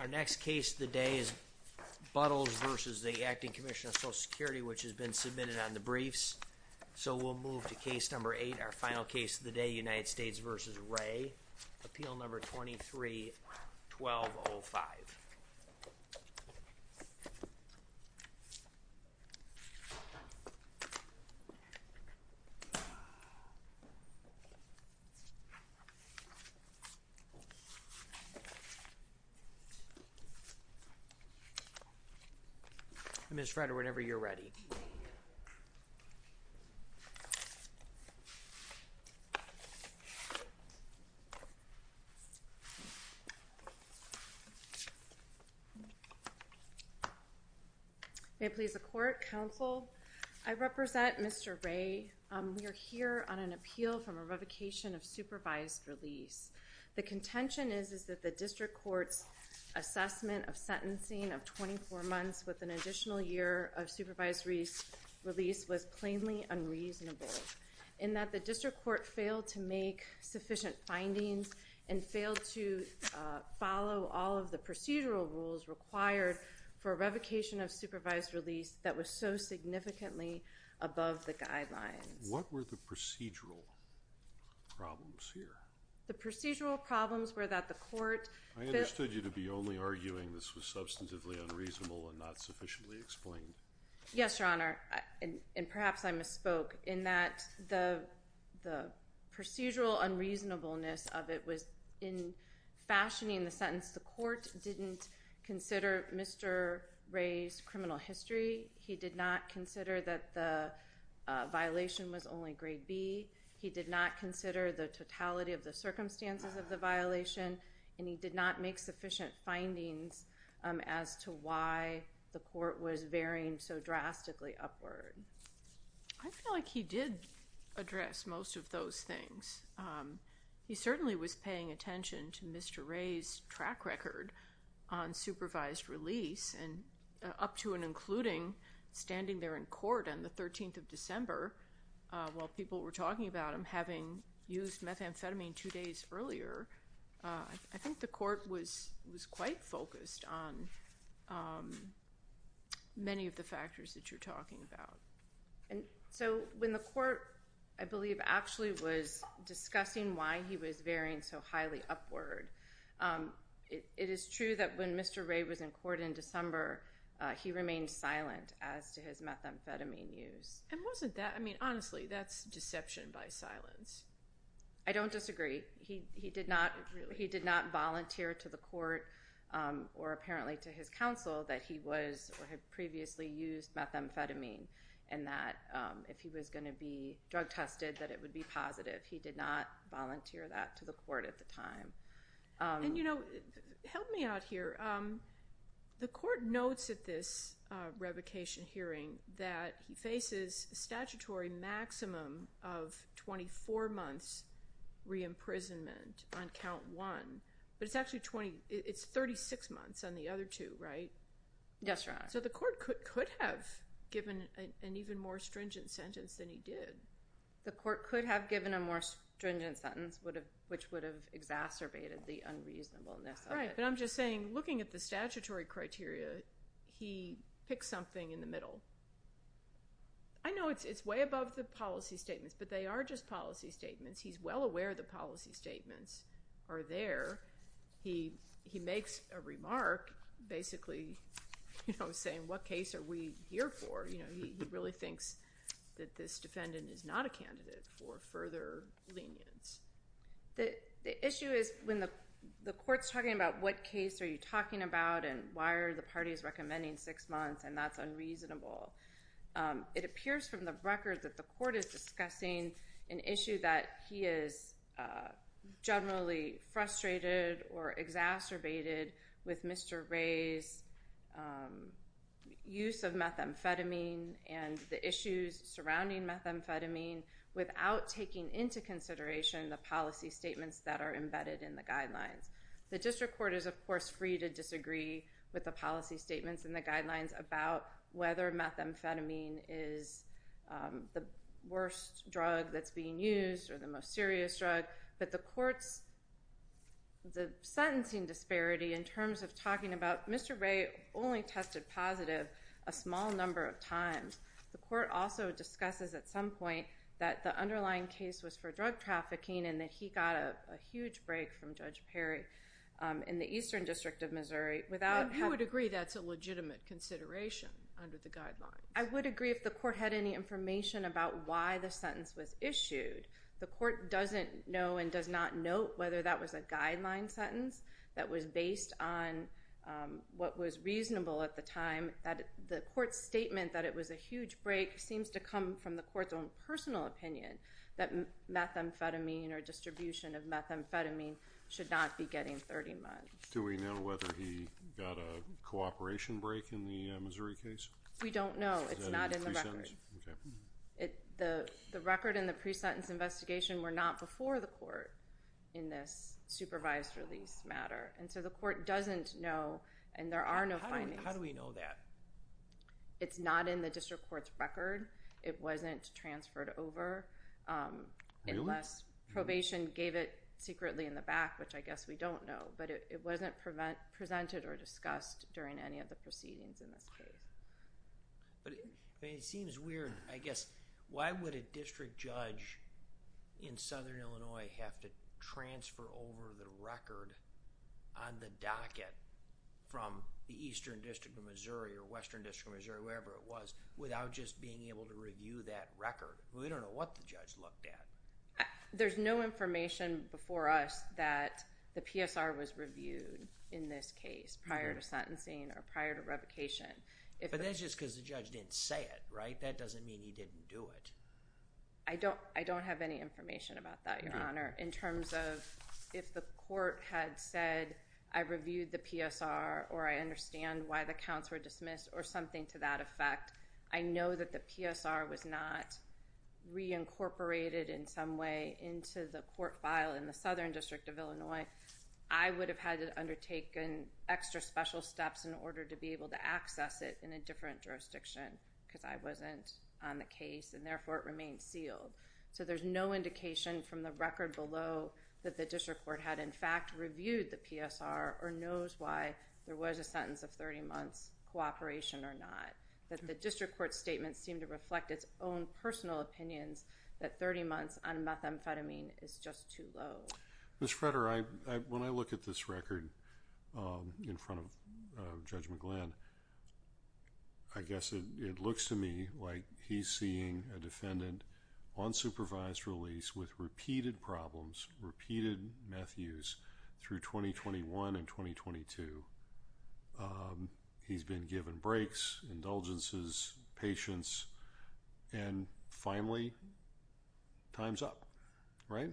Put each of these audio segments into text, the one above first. Our next case the day is Buttles versus the Acting Commissioner of Social Security which has been submitted on the briefs So we'll move to case number eight our final case of the day United States versus Ray appeal number 23 1205 I Miss Frederick whenever you're ready It please the court counsel I Represent, mr. Ray. We are here on an appeal from a revocation of supervised release The contention is is that the district courts? assessment of sentencing of 24 months with an additional year of supervised release Release was plainly unreasonable in that the district court failed to make sufficient findings and failed to Follow all of the procedural rules required for a revocation of supervised release that was so significantly Above the guidelines. What were the procedural? Problems here the procedural problems were that the court I understood you to be only arguing this was substantively unreasonable and not sufficiently explained yes, your honor, and and perhaps I misspoke in that the the procedural unreasonableness of it was in Fashioning the sentence the court didn't consider. Mr. Ray's criminal history. He did not consider that the He did not consider the totality of the circumstances of the violation and he did not make sufficient findings As to why the court was varying so drastically upward. I Feel like he did address most of those things He certainly was paying attention to mr. Ray's track record on supervised release and up to and including Standing there in court on the 13th of December While people were talking about him having used methamphetamine two days earlier I think the court was was quite focused on Many of the factors that you're talking about And so when the court I believe actually was discussing why he was varying so highly upward It is true that when mr. Ray was in court in December He remained silent as to his methamphetamine use and wasn't that I mean, honestly, that's deception by silence I don't disagree. He did not he did not volunteer to the court or apparently to his counsel that he was or had previously used methamphetamine and that If he was going to be drug tested that it would be positive. He did not volunteer that to the court at the time And you know help me out here The court notes at this revocation hearing that he faces statutory maximum of 24 months Reimprisonment on count one, but it's actually 20. It's 36 months on the other two, right? Yes, right So the court could could have given an even more stringent sentence than he did The court could have given a more stringent sentence would have which would have exacerbated the unreasonableness But I'm just saying looking at the statutory criteria he picked something in the middle. I Know it's it's way above the policy statements, but they are just policy statements. He's well aware. The policy statements are there He he makes a remark Basically, you know saying what case are we here for? You know, he really thinks that this defendant is not a candidate for further lenience The the issue is when the the courts talking about what case are you talking about and why are the parties recommending six months? And that's unreasonable It appears from the record that the court is discussing an issue that he is Generally frustrated or exacerbated with mr. Ray's Use of methamphetamine and the issues surrounding methamphetamine Without taking into consideration the policy statements that are embedded in the guidelines the district court is of course free to disagree with the policy statements and the guidelines about whether methamphetamine is The worst drug that's being used or the most serious drug, but the courts The sentencing disparity in terms of talking about mr. Ray only tested positive a small number of times The court also discusses at some point that the underlying case was for drug trafficking and that he got a huge break from judge Perry In the Eastern District of Missouri without you would agree. That's a legitimate consideration under the guidelines I would agree if the court had any information about why the sentence was issued The court doesn't know and does not note whether that was a guideline sentence. That was based on What was reasonable at the time that the court's statement that it was a huge break seems to come from the court's own personal opinion that Methamphetamine or distribution of methamphetamine should not be getting 30 months. Do we know whether he got a Cooperation break in the Missouri case. We don't know it's not in the record It the the record in the pre-sentence investigation were not before the court in this Supervised-release matter and so the court doesn't know and there are no fine. How do we know that? It's not in the district courts record. It wasn't transferred over Unless probation gave it secretly in the back, which I guess we don't know But it wasn't prevent presented or discussed during any of the proceedings in this case But it seems weird. I guess why would a district judge? In southern, Illinois have to transfer over the record on the docket From the Eastern District of Missouri or Western District, Missouri, wherever it was without just being able to review that record We don't know what the judge looked at There's no information before us that the PSR was reviewed in this case prior to sentencing or prior to revocation If it is just because the judge didn't say it right that doesn't mean he didn't do it I don't I don't have any information about that your honor in terms of if the court had said I Reviewed the PSR or I understand why the counts were dismissed or something to that effect. I know that the PSR was not Reincorporated in some way into the court file in the Southern District of Illinois I would have had to undertake an extra special steps in order to be able to access it in a different jurisdiction Because I wasn't on the case and therefore it remained sealed so there's no indication from the record below that the district court had in fact reviewed the PSR or knows why there was a sentence of 30 months Cooperation or not that the district court statement seemed to reflect its own personal opinions that 30 months on methamphetamine Is just too low miss Fretter. I when I look at this record in front of Judge McGlynn, I It looks to me like he's seeing a defendant on supervised release with repeated problems repeated Matthews through 2021 and 2022 He's been given breaks indulgences patience and finally Times up, right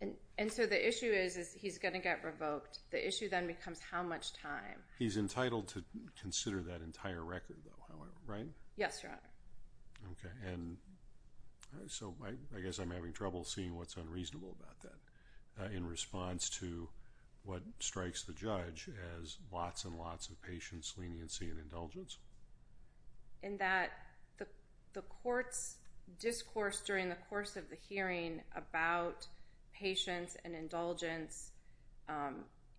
And and so the issue is he's gonna get revoked the issue then becomes how much time he's entitled to consider that entire record Right. Yes, sir okay, and So I guess I'm having trouble seeing what's unreasonable about that in response to What strikes the judge as lots and lots of patience leniency and indulgence? in that the the courts discourse during the course of the hearing about patience and indulgence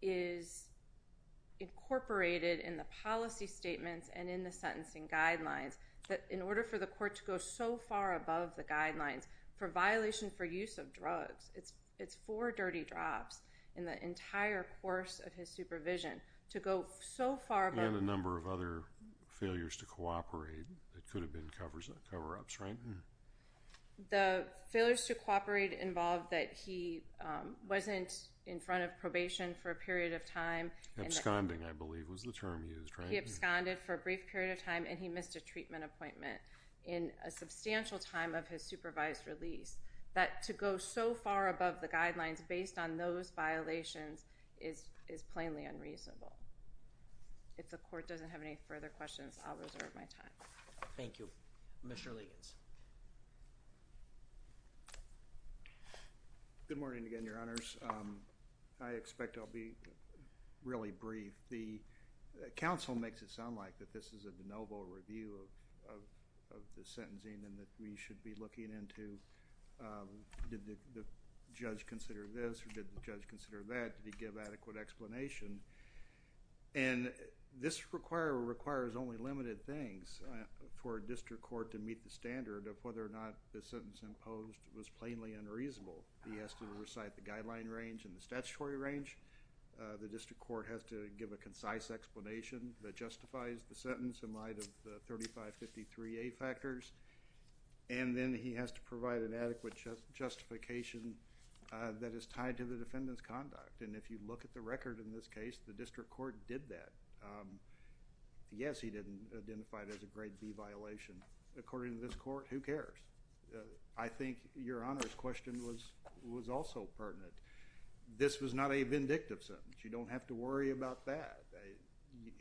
is Incorporated in the policy statements and in the sentencing guidelines But in order for the court to go so far above the guidelines for violation for use of drugs It's it's four dirty drops in the entire course of his supervision to go so far about a number of other Failures to cooperate that could have been covers that cover-ups, right? the failures to cooperate involved that he Wasn't in front of probation for a period of time Absconding I believe was the term used he absconded for a brief period of time and he missed a treatment appointment in a Substantial time of his supervised release that to go so far above the guidelines based on those violations is Is plainly unreasonable If the court doesn't have any further questions, I'll reserve my time. Thank you. Mr. Ligons Good Morning again, your honors. I expect I'll be really brief the Council makes it sound like that. This is a de novo review of the sentencing and that we should be looking into did the judge consider this or did the judge consider that did he give adequate explanation and This require requires only limited things For a district court to meet the standard of whether or not the sentence imposed was plainly unreasonable He has to recite the guideline range and the statutory range the district court has to give a concise explanation that justifies the sentence in light of the 3553 a factors and Then he has to provide an adequate Justification that is tied to the defendants conduct. And if you look at the record in this case the district court did that Yes, he didn't identify it as a grade B violation according to this court who cares I Think your honors question was was also pertinent. This was not a vindictive sentence. You don't have to worry about that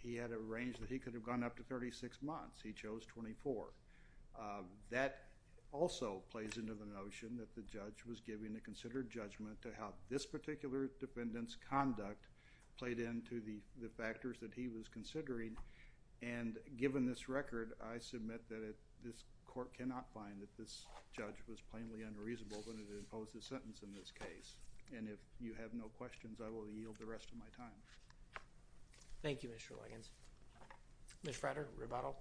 He had a range that he could have gone up to 36 months. He chose 24 That also plays into the notion that the judge was giving a considered judgment to how this particular Defendant's conduct played into the the factors that he was considering and Given this record I submit that it this court cannot find that this Judge was plainly unreasonable when it imposed a sentence in this case And if you have no questions, I will yield the rest of my time Thank You. Mr. Liggins Miss Frederick rebuttal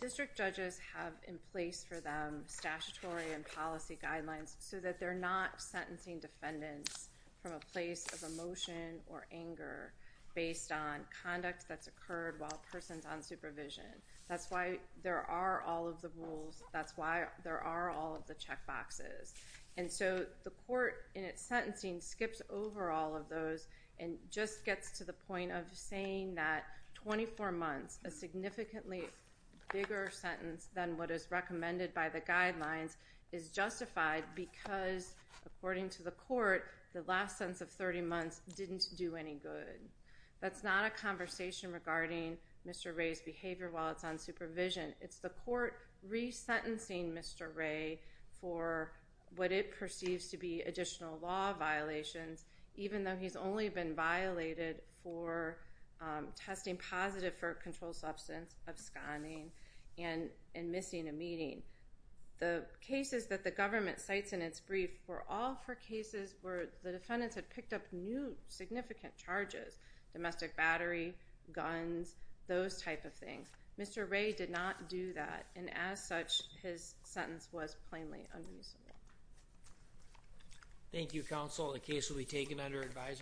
District judges have in place for them statutory and policy guidelines so that they're not Sentencing defendants from a place of emotion or anger Based on conduct that's occurred while persons on supervision. That's why there are all of the rules That's why there are all of the check boxes and so the court in its sentencing skips over all of those and just gets to the point of saying that 24 months a significantly bigger sentence than what is recommended by the guidelines is Justified because according to the court the last sense of 30 months didn't do any good That's not a conversation regarding. Mr. Ray's behavior while it's on supervision. It's the court resentencing, mr. Ray for what it perceives to be additional law violations, even though he's only been violated for Testing positive for a controlled substance absconding and in missing a meeting The case is that the government cites in its brief for all four cases where the defendants had picked up new significant charges domestic battery guns Those type of things. Mr. Ray did not do that. And as such his sentence was plainly unreasonable Thank You counsel the case will be taken under advisement